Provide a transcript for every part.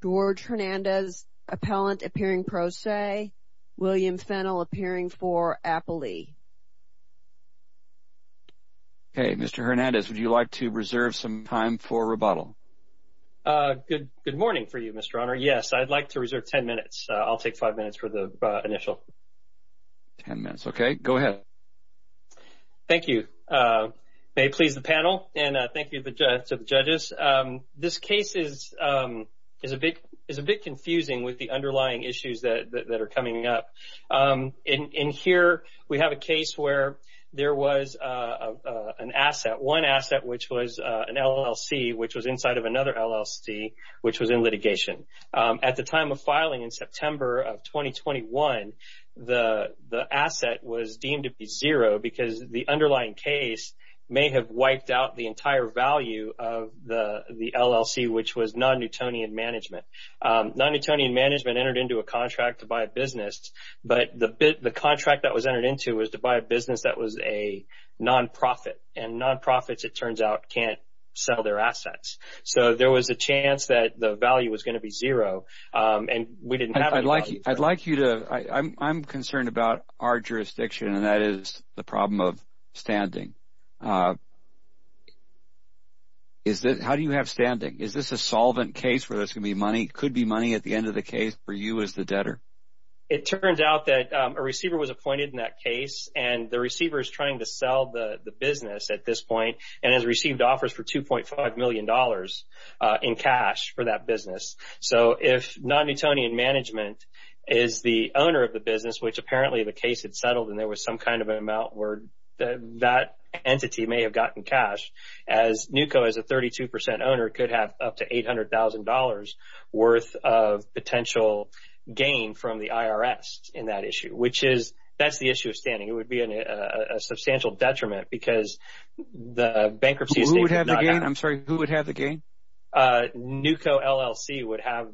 George Hernandez, appellant, appearing pro se. William Fennell, appearing for appellee. Okay. Mr. Hernandez, would you like to reserve some time for rebuttal? Good morning for you, Mr. Honor. Yes, I'd like to reserve ten minutes. I'll take five minutes for the initial. Ten minutes. Okay. Go ahead. Thank you. May it please the panel and thank you to the judges. This case is a bit confusing with the underlying issues that are coming up. In here, we have a case where there was an asset, one asset, which was an LLC, which was inside of another LLC, which was in litigation. At the time of filing in September of 2021, the asset was deemed to be zero because the underlying case may have wiped out the entire value of the LLC, which was Non-Newtonian Management. Non-Newtonian Management entered into a contract to buy a business, but the contract that was entered into was to buy a business that was a nonprofit. And nonprofits, it turns out, can't sell their assets. So there was a chance that the value was going to be zero, and we didn't have any value. I'm concerned about our jurisdiction, and that is the problem of standing. How do you have standing? Is this a solvent case where there's going to be money? It could be money at the end of the case for you as the debtor. It turns out that a receiver was appointed in that case, and the receiver is trying to sell the business at this point and has received offers for $2.5 million in cash for that business. So if Non-Newtonian Management is the owner of the business, which apparently the case had settled and there was some kind of an amount where that entity may have gotten cash, as Newco is a 32% owner, it could have up to $800,000 worth of potential gain from the IRS in that issue. That's the issue of standing. It would be a substantial detriment because the bankruptcy estate would not have… Who would have the gain? I'm sorry. Who would have the gain? Newco LLC would have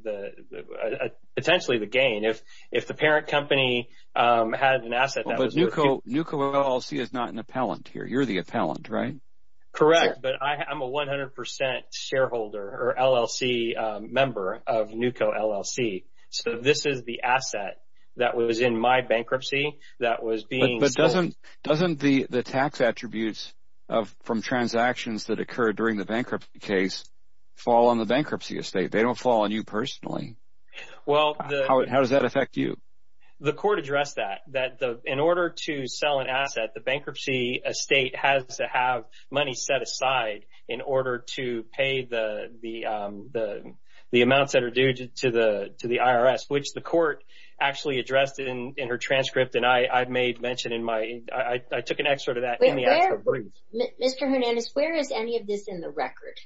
potentially the gain. If the parent company had an asset that was… But Newco LLC is not an appellant here. You're the appellant, right? Correct, but I'm a 100% shareholder or LLC member of Newco LLC. So this is the asset that was in my bankruptcy that was being sold. But doesn't the tax attributes from transactions that occurred during the bankruptcy case fall on the bankruptcy estate? They don't fall on you personally. How does that affect you? The court addressed that, that in order to sell an asset, the bankruptcy estate has to have money set aside in order to pay the amounts that are due to the IRS, which the court actually addressed in her transcript, and I made mention in my… I took an excerpt of that in the excerpt brief. Mr. Hernandez, where is any of this in the record?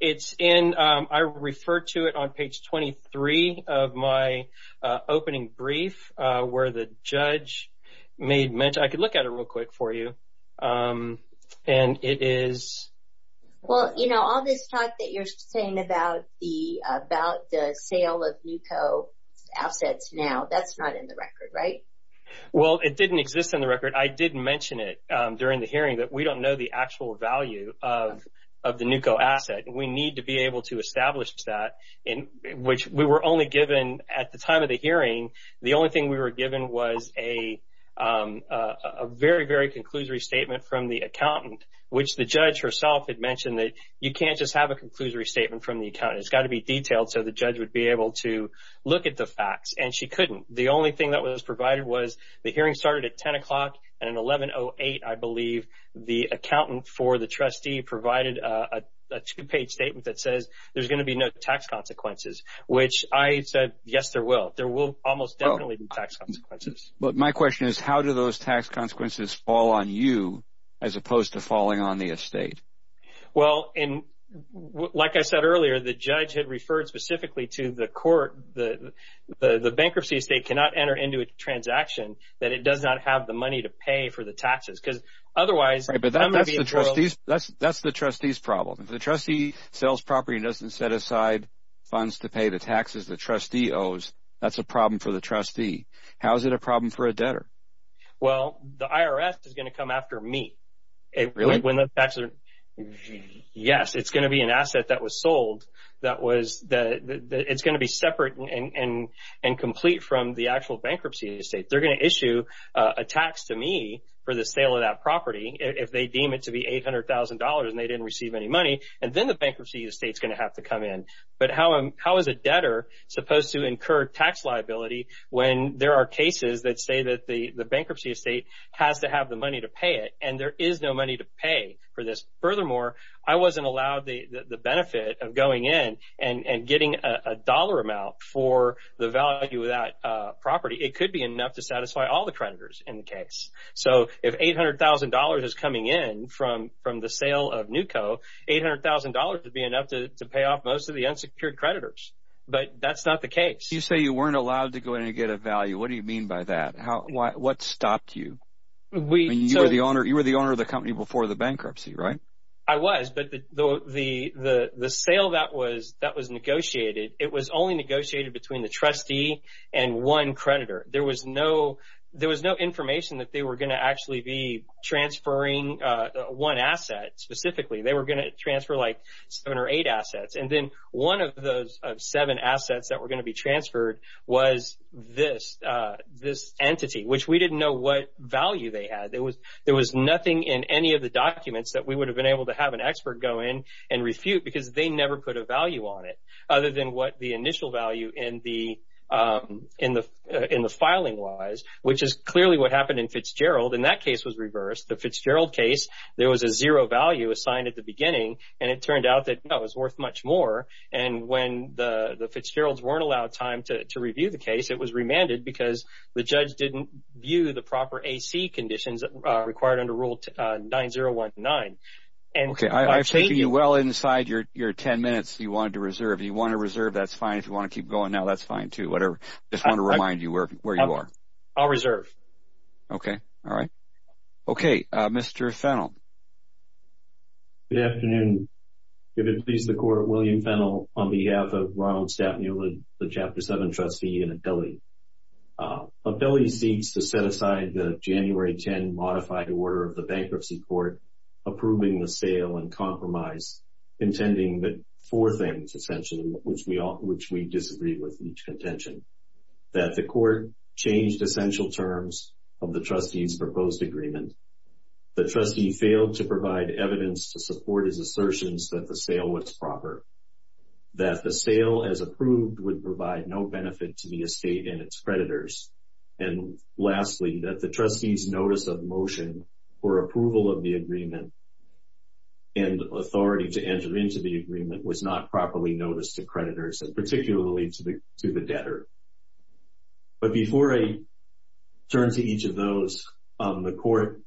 It's in… I referred to it on page 23 of my opening brief where the judge made mention… I could look at it real quick for you, and it is… Well, you know, all this talk that you're saying about the sale of Newco assets now, that's not in the record, right? Well, it didn't exist in the record. I did mention it during the hearing that we don't know the actual value of the Newco asset. We need to be able to establish that, which we were only given at the time of the hearing. The only thing we were given was a very, very conclusory statement from the accountant, which the judge herself had mentioned that you can't just have a conclusory statement from the accountant. It's got to be detailed so the judge would be able to look at the facts, and she couldn't. The only thing that was provided was the hearing started at 10 o'clock, and at 11.08, I believe, the accountant for the trustee provided a two-page statement that says there's going to be no tax consequences, which I said, yes, there will. There will almost definitely be tax consequences. But my question is, how do those tax consequences fall on you as opposed to falling on the estate? Well, like I said earlier, the judge had referred specifically to the court. The bankruptcy estate cannot enter into a transaction that it does not have the money to pay for the taxes, because otherwise… Right, but that's the trustee's problem. The trustee sells property and doesn't set aside funds to pay the taxes the trustee owes. That's a problem for the trustee. How is it a problem for a debtor? Well, the IRS is going to come after me. Really? Yes. It's going to be an asset that was sold. It's going to be separate and complete from the actual bankruptcy estate. They're going to issue a tax to me for the sale of that property if they deem it to be $800,000 and they didn't receive any money, and then the bankruptcy estate is going to have to come in. But how is a debtor supposed to incur tax liability when there are cases that say that the bankruptcy estate has to have the money to pay it, and there is no money to pay for this? Furthermore, I wasn't allowed the benefit of going in and getting a dollar amount for the value of that property. It could be enough to satisfy all the creditors in the case. So if $800,000 is coming in from the sale of NewCo, $800,000 would be enough to pay off most of the unsecured creditors. But that's not the case. You say you weren't allowed to go in and get a value. What do you mean by that? What stopped you? You were the owner of the company before the bankruptcy, right? I was, but the sale that was negotiated, it was only negotiated between the trustee and one creditor. There was no information that they were going to actually be transferring one asset specifically. They were going to transfer like seven or eight assets. And then one of those seven assets that were going to be transferred was this entity, which we didn't know what value they had. There was nothing in any of the documents that we would have been able to have an expert go in and refute because they never put a value on it other than what the initial value in the filing was, which is clearly what happened in Fitzgerald. And that case was reversed. The Fitzgerald case, there was a zero value assigned at the beginning, and it turned out that it was worth much more. And when the Fitzgeralds weren't allowed time to review the case, it was remanded because the judge didn't view the proper AC conditions required under Rule 9019. I've taken you well inside your ten minutes you wanted to reserve. If you want to reserve, that's fine. If you want to keep going now, that's fine too, whatever. I just want to remind you where you are. I'll reserve. Okay. All right. Okay. Mr. Fennell. Good afternoon. Give it please the Court. William Fennell on behalf of Ronald Staff Newland, the Chapter 7 trustee in Ability. Ability seeks to set aside the January 10 modified order of the bankruptcy court approving the sale and compromise, intending that four things, essentially, which we disagree with in each contention, that the court changed essential terms of the trustee's proposed agreement, the trustee failed to provide evidence to support his assertions that the sale was proper, that the sale, as approved, would provide no benefit to the estate and its creditors, and lastly, that the trustee's notice of motion for approval of the agreement and authority to enter into the agreement was not properly noticed to creditors, and particularly to the debtor. But before I turn to each of those, the court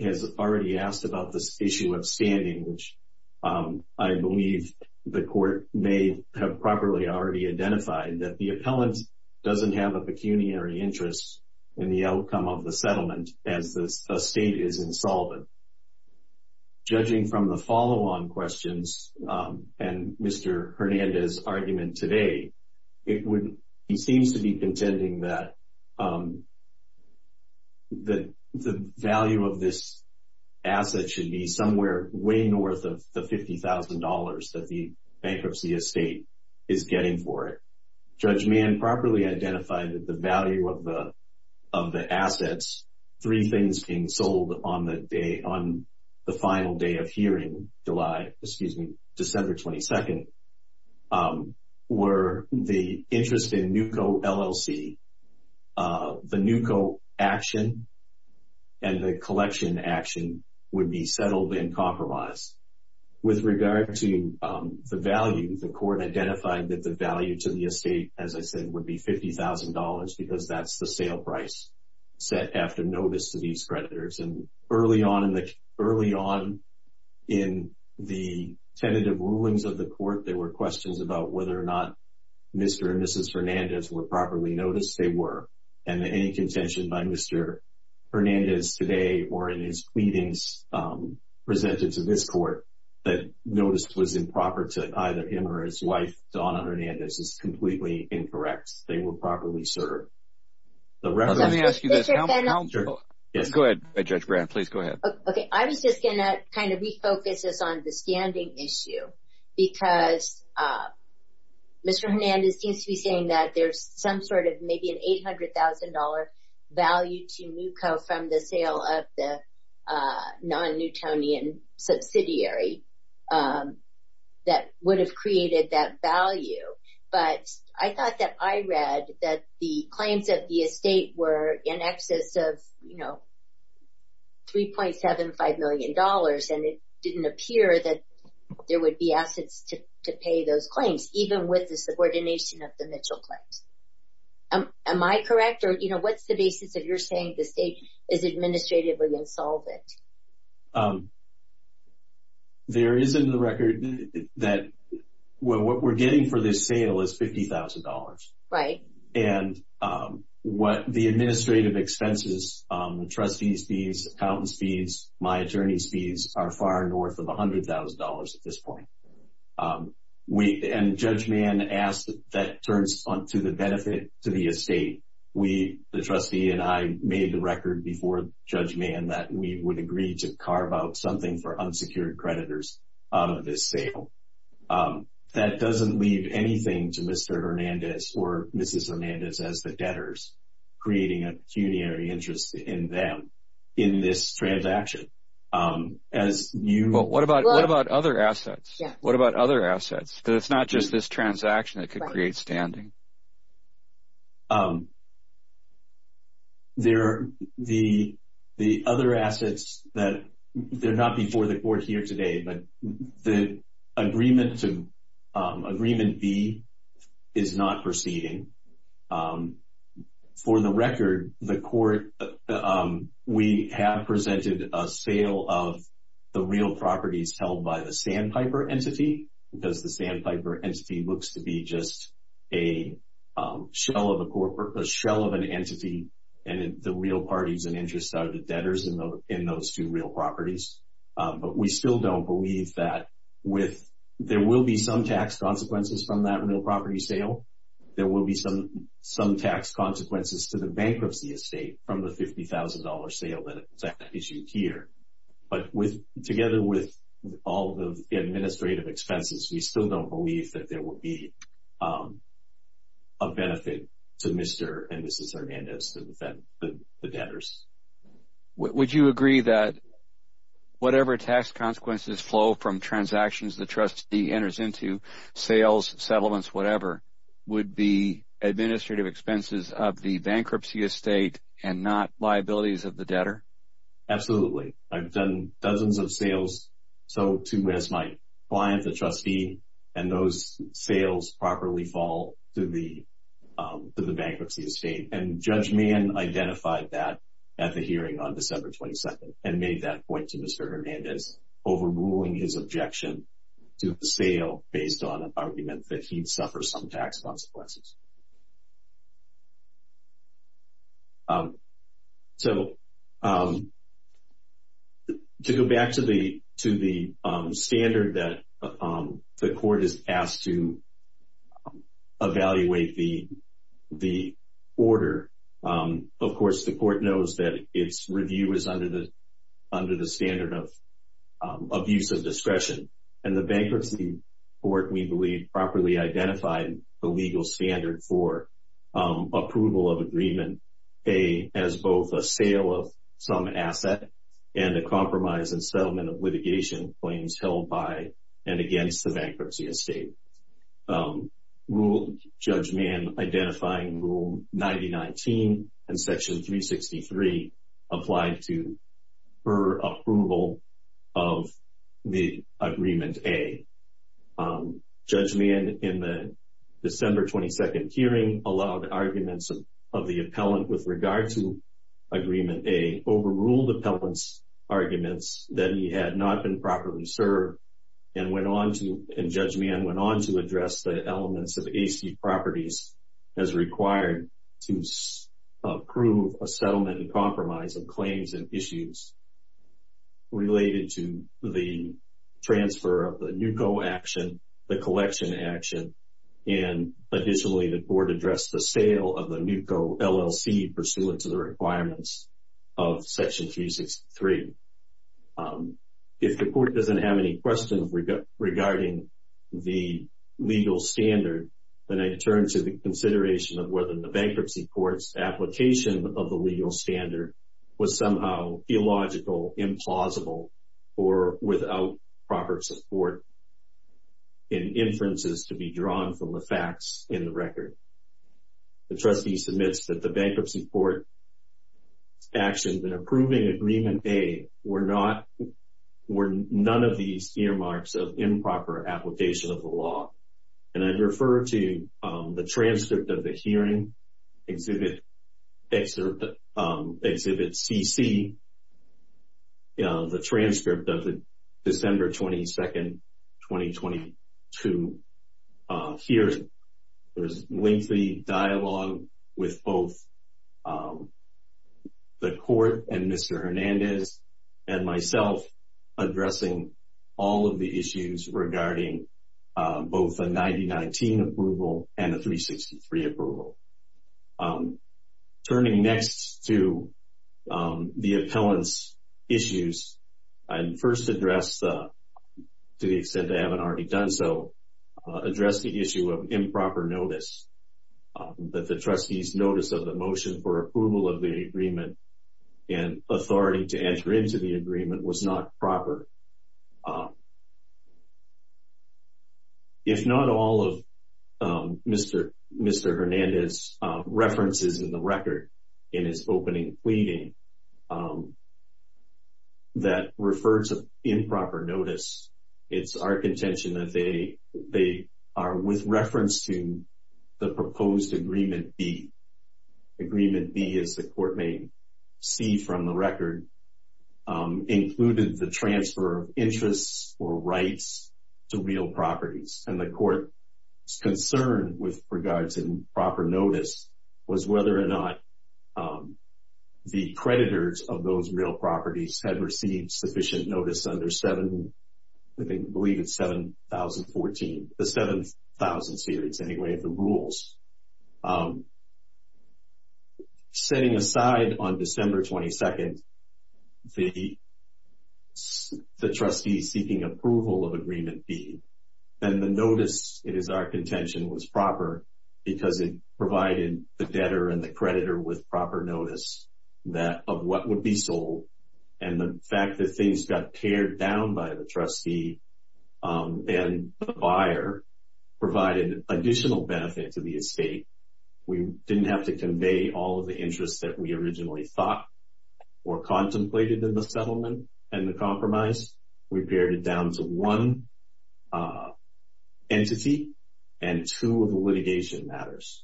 has already asked about this issue of standing, which I believe the court may have properly already identified, that the appellant doesn't have a pecuniary interest in the outcome of the settlement as the estate is insolvent. Judging from the follow-on questions and Mr. Hernandez's argument today, he seems to be contending that the value of this asset should be somewhere way north of the $50,000 that the bankruptcy estate is getting for it. Judge Mann properly identified that the value of the assets, three things being sold on the final day of hearing, December 22nd, were the interest in NUCCO LLC, the NUCCO action, and the collection action would be settled and compromised. With regard to the value, the court identified that the value to the estate, as I said, would be $50,000 because that's the sale price set after notice to these creditors. And early on in the tentative rulings of the court, there were questions about whether or not Mr. and Mrs. Hernandez were properly noticed. They were. And any contention by Mr. Hernandez today or in his pleadings presented to this court that notice was improper to either him or his wife, Donna Hernandez, is completely incorrect. They were properly served. Let me ask you this. Go ahead, Judge Brand. Please go ahead. I was just going to kind of refocus this on the standing issue because Mr. Hernandez seems to be saying that there's some sort of maybe an $800,000 value to NUCCO from the sale of the non-Newtonian subsidiary that would have created that value. But I thought that I read that the claims of the estate were in excess of, you know, $3.75 million, and it didn't appear that there would be assets to pay those claims, even with the subordination of the Mitchell claims. Am I correct? Or, you know, what's the basis of your saying the estate is administratively insolvent? There is in the record that what we're getting for this sale is $50,000. Right. And what the administrative expenses, trustees' fees, accountants' fees, my attorney's fees, are far north of $100,000 at this point. And Judge Mann asked that turns to the benefit to the estate. The trustee and I made the record before Judge Mann that we would agree to carve out something for unsecured creditors out of this sale. That doesn't leave anything to Mr. Hernandez or Mrs. Hernandez as the debtors, creating a pecuniary interest in them in this transaction. But what about other assets? What about other assets? Because it's not just this transaction that could create standing. The other assets, they're not before the Court here today, but the agreement B is not proceeding. For the record, we have presented a sale of the real properties held by the Sandpiper entity because the Sandpiper entity looks to be just a shell of an entity, and the real parties and interests are the debtors in those two real properties. But we still don't believe that there will be some tax consequences from that real property sale. There will be some tax consequences to the bankruptcy estate from the $50,000 sale that is issued here. But together with all the administrative expenses, we still don't believe that there will be a benefit to Mr. and Mrs. Hernandez, the debtors. Would you agree that whatever tax consequences flow from transactions the trustee enters into, sales, settlements, whatever, would be administrative expenses of the bankruptcy estate and not liabilities of the debtor? Absolutely. I've done dozens of sales to my client, the trustee, and those sales properly fall to the bankruptcy estate. And Judge Mann identified that at the hearing on December 22nd and made that point to Mr. Hernandez, overruling his objection to the sale based on an argument that he'd suffer some tax consequences. To go back to the standard that the court is asked to evaluate the order, of course the court knows that its review is under the standard of abuse of discretion. And the bankruptcy court, we believe, properly identified the legal standard for approval of agreement as both a sale of some asset and a compromise and settlement of litigation claims held by and against the bankruptcy estate. Judge Mann, identifying Rule 9019 and Section 363, applied to her approval of the Agreement A. Judge Mann, in the December 22nd hearing, allowed arguments of the appellant with regard to Agreement A, overruled the appellant's arguments that he had not been properly served and Judge Mann went on to address the elements of AC properties as required to approve a settlement and compromise of claims and issues related to the transfer of the NUCCO action, the collection action, and additionally the court addressed the sale of the NUCCO LLC pursuant to the requirements of Section 363. If the court doesn't have any questions regarding the legal standard, then I turn to the consideration of whether the bankruptcy court's application of the legal standard was somehow theological, implausible, or without proper support and inferences to be drawn from the facts in the record. The trustee submits that the bankruptcy court's actions in approving Agreement A were none of these earmarks of improper application of the law. And I refer to the transcript of the hearing, Exhibit CC, the transcript of the December 22nd, 2022 hearing. There was lengthy dialogue with both the court and Mr. Hernandez and myself addressing all of the issues regarding both a 9019 approval and a 363 approval. Turning next to the appellant's issues, I first address, to the extent I haven't already done so, address the issue of improper notice, that the trustee's notice of the motion for approval of the agreement and authority to enter into the agreement was not proper. If not all of Mr. Hernandez's references in the record in his opening pleading that refer to improper notice, it's our contention that they are with reference to the proposed Agreement B. Agreement B, as the court may see from the record, included the transfer of interests or rights to real properties. And the court's concern with regards to improper notice was whether or not the creditors of those real properties had received sufficient notice under 7,000 series, anyway, of the rules. Setting aside on December 22nd the trustee seeking approval of Agreement B, then the notice, it is our contention, was proper because it provided the debtor and the creditor with proper notice of what would be sold, and the fact that things got teared down by the trustee and the buyer provided additional benefit to the estate. We didn't have to convey all of the interests that we originally thought or contemplated in the settlement and the compromise. We pared it down to one entity and two of the litigation matters,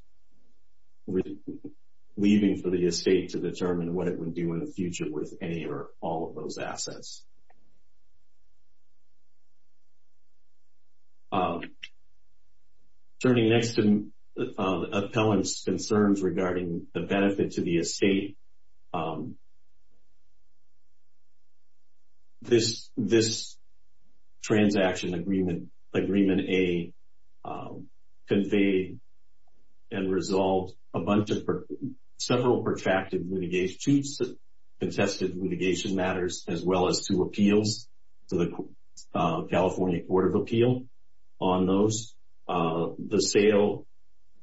leaving for the estate to determine what it would do in the future with any or all of those assets. Turning next to Appellant's concerns regarding the benefit to the estate, this transaction, Agreement A, conveyed and resolved several protracted litigation, two contested litigation matters, as well as two appeals to the California Court of Appeal on those. The sale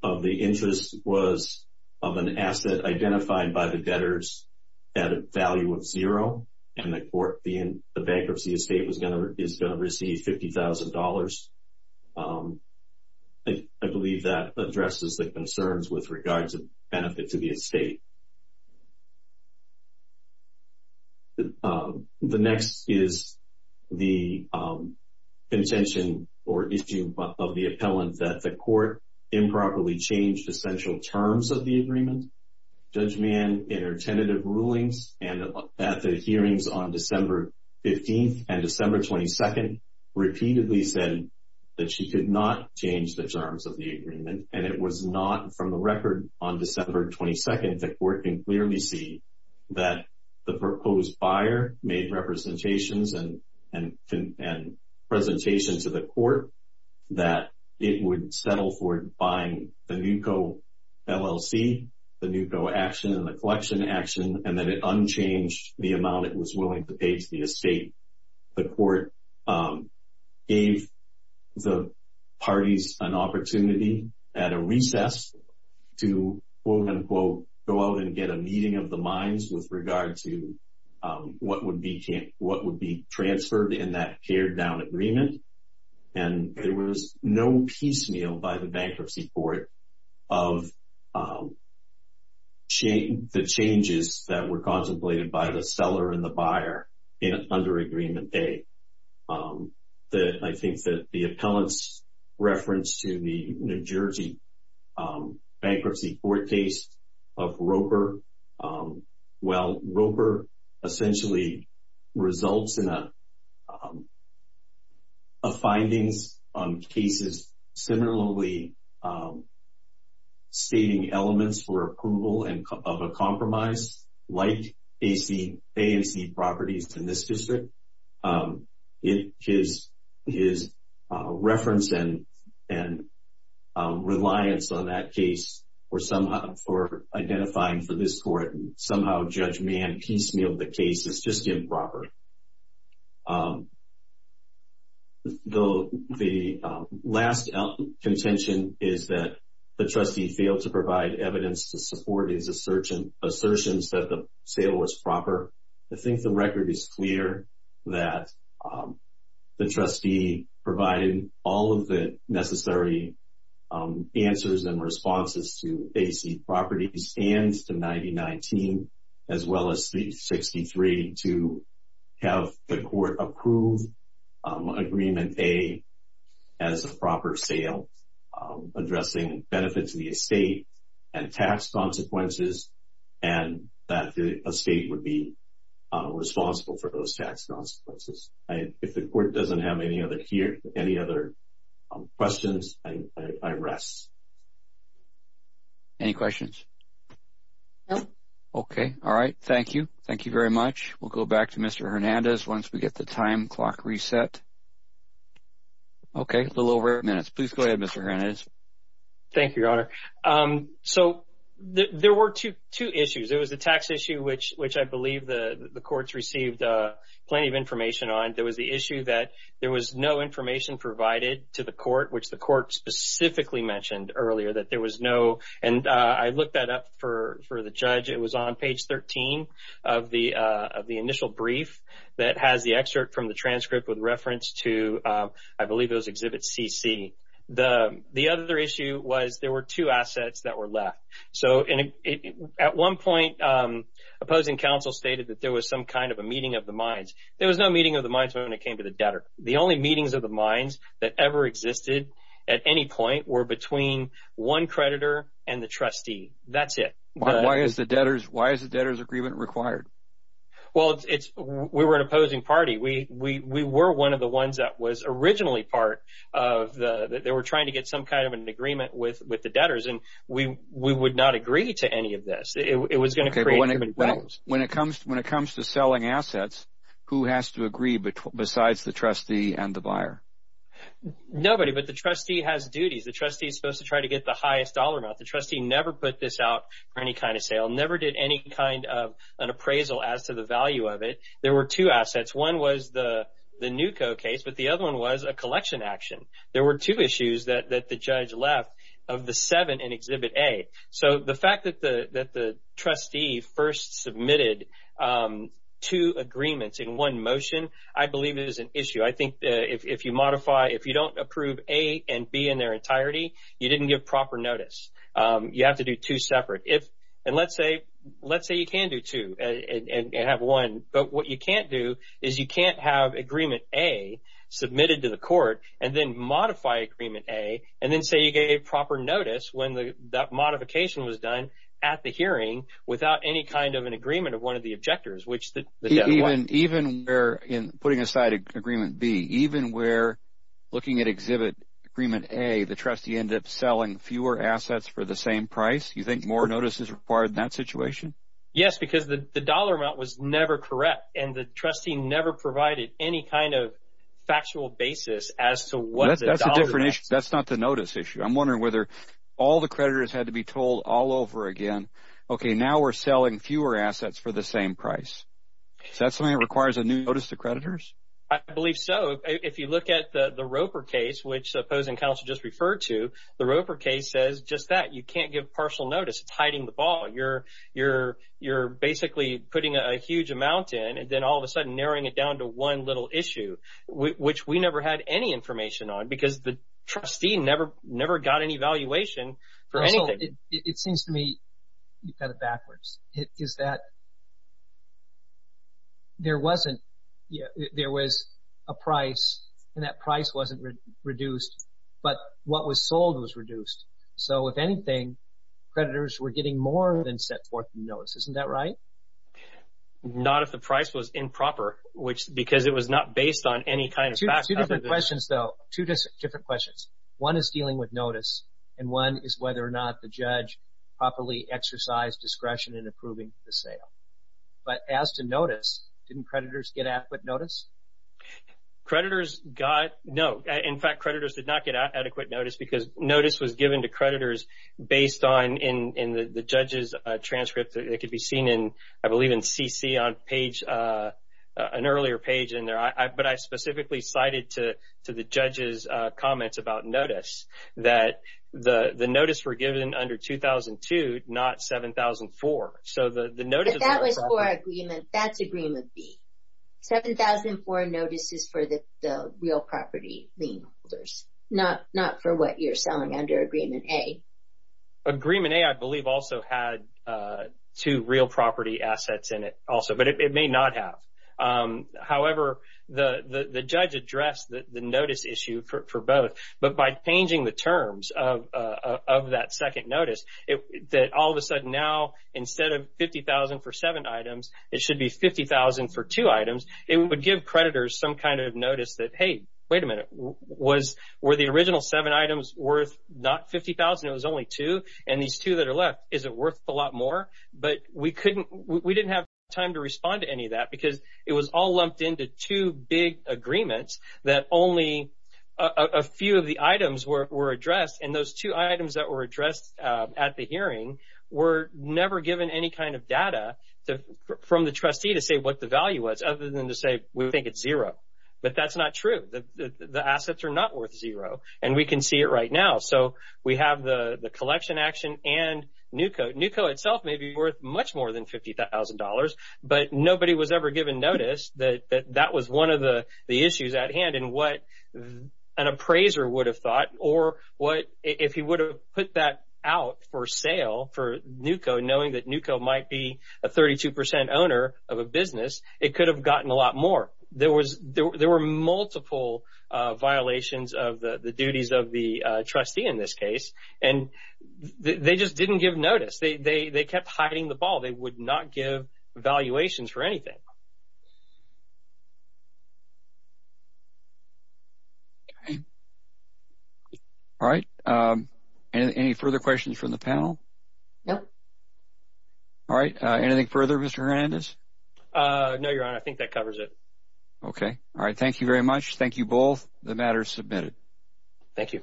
of the interest was of an asset identified by the debtors at a value of zero, and the bankruptcy estate is going to receive $50,000. I believe that addresses the concerns with regards to benefit to the estate. The next is the contention or issue of the appellant that the court improperly changed essential terms of the agreement. Judge Mann, in her tentative rulings and at the hearings on December 15th and December 22nd, repeatedly said that she could not change the terms of the agreement, and it was not from the record on December 22nd that the court can clearly see that the proposed buyer made representations and presentations to the court that it would settle for buying the NUCCO LLC, the NUCCO action and the collection action, and that it unchanged the amount it was willing to pay to the estate. The court gave the parties an opportunity at a recess to, quote-unquote, go out and get a meeting of the minds with regard to what would be transferred in that teared-down agreement, and there was no piecemeal by the bankruptcy court of the changes that were contemplated by the seller and the buyer in an under-agreement day. I think that the appellant's reference to the New Jersey bankruptcy court case of Roper, well, Roper essentially results in findings on cases similarly stating elements for approval of a compromise, like A and C properties in this district. His reference and reliance on that case for identifying for this court, somehow Judge Mann piecemealed the case as just improper. The last contention is that the trustee failed to provide evidence to support his assertions that the sale was proper. I think the record is clear that the trustee provided all of the necessary answers and responses to A and C properties and to 90-19, as well as 60-3 to have the court approve agreement A as a proper sale, addressing benefits to the estate and tax consequences, and that the estate would be responsible for those tax consequences. If the court doesn't have any other questions, I rest. Any questions? No. Okay. All right. Thank you. Thank you very much. We'll go back to Mr. Hernandez once we get the time clock reset. Okay. A little over eight minutes. Please go ahead, Mr. Hernandez. Thank you, Your Honor. So there were two issues. There was the tax issue, which I believe the courts received plenty of information on. There was the issue that there was no information provided to the court, which the court specifically mentioned earlier that there was no and I looked that up for the judge. It was on page 13 of the initial brief that has the excerpt from the transcript with reference to, I believe it was Exhibit CC. The other issue was there were two assets that were left. So at one point, opposing counsel stated that there was some kind of a meeting of the minds. There was no meeting of the minds when it came to the debtor. The only meetings of the minds that ever existed at any point were between one creditor and the trustee. That's it. Why is the debtor's agreement required? Well, we were an opposing party. We were one of the ones that was originally part of the – they were trying to get some kind of an agreement with the debtors, and we would not agree to any of this. It was going to create too many problems. When it comes to selling assets, who has to agree besides the trustee and the buyer? Nobody, but the trustee has duties. The trustee is supposed to try to get the highest dollar amount. The trustee never put this out for any kind of sale, never did any kind of an appraisal as to the value of it. There were two assets. One was the Newco case, but the other one was a collection action. There were two issues that the judge left of the seven in Exhibit A. So the fact that the trustee first submitted two agreements in one motion, I believe it is an issue. I think if you modify – if you don't approve A and B in their entirety, you didn't give proper notice. You have to do two separate. And let's say you can do two and have one, but what you can't do is you can't have Agreement A submitted to the court and then modify Agreement A and then say you gave proper notice when that modification was done at the hearing without any kind of an agreement of one of the objectors, which the judge wanted. Even where – putting aside Agreement B, even where looking at Exhibit Agreement A, the trustee ended up selling fewer assets for the same price, you think more notice is required in that situation? Yes, because the dollar amount was never correct, and the trustee never provided any kind of factual basis as to what the dollar amount – That's a different issue. That's not the notice issue. I'm wondering whether all the creditors had to be told all over again, okay, now we're selling fewer assets for the same price. Is that something that requires a new notice to creditors? I believe so. If you look at the Roper case, which Pozen Counsel just referred to, the Roper case says just that. You can't give partial notice. It's hiding the ball. You're basically putting a huge amount in and then all of a sudden narrowing it down to one little issue, which we never had any information on because the trustee never got any valuation for anything. So it seems to me you've got it backwards. Is that there wasn't – there was a price, and that price wasn't reduced, but what was sold was reduced. So if anything, creditors were getting more than set forth in the notice. Isn't that right? Not if the price was improper, because it was not based on any kind of fact. Two different questions, though. Two different questions. One is dealing with notice, and one is whether or not the judge properly exercised discretion in approving the sale. But as to notice, didn't creditors get adequate notice? Creditors got – no. In fact, creditors did not get adequate notice because notice was given to creditors based on in the judge's transcript. It could be seen in, I believe, in CC on page – an earlier page in there. But I specifically cited to the judge's comments about notice that the notice were given under 2002, not 7004. If that was for agreement, that's agreement B. 7004 notice is for the real property lien holders, not for what you're selling under agreement A. Agreement A, I believe, also had two real property assets in it also, but it may not have. However, the judge addressed the notice issue for both. But by changing the terms of that second notice, that all of a sudden now instead of $50,000 for seven items, it should be $50,000 for two items. It would give creditors some kind of notice that, hey, wait a minute. Were the original seven items worth not $50,000, it was only two, and these two that are left, is it worth a lot more? But we didn't have time to respond to any of that because it was all lumped into two big agreements that only a few of the items were addressed. And those two items that were addressed at the hearing were never given any kind of data from the trustee to say what the value was, other than to say we think it's zero. But that's not true. The assets are not worth zero, and we can see it right now. So we have the collection action and NUCO. NUCO itself may be worth much more than $50,000, but nobody was ever given notice that that was one of the issues at hand and what an appraiser would have thought. Or if he would have put that out for sale for NUCO, knowing that NUCO might be a 32% owner of a business, it could have gotten a lot more. There were multiple violations of the duties of the trustee in this case, and they just didn't give notice. They kept hiding the ball. They would not give valuations for anything. All right. Any further questions from the panel? No. All right. Anything further, Mr. Hernandez? No, Your Honor. I think that covers it. Okay. All right. Thank you very much. Thank you both. The matter is submitted. Thank you.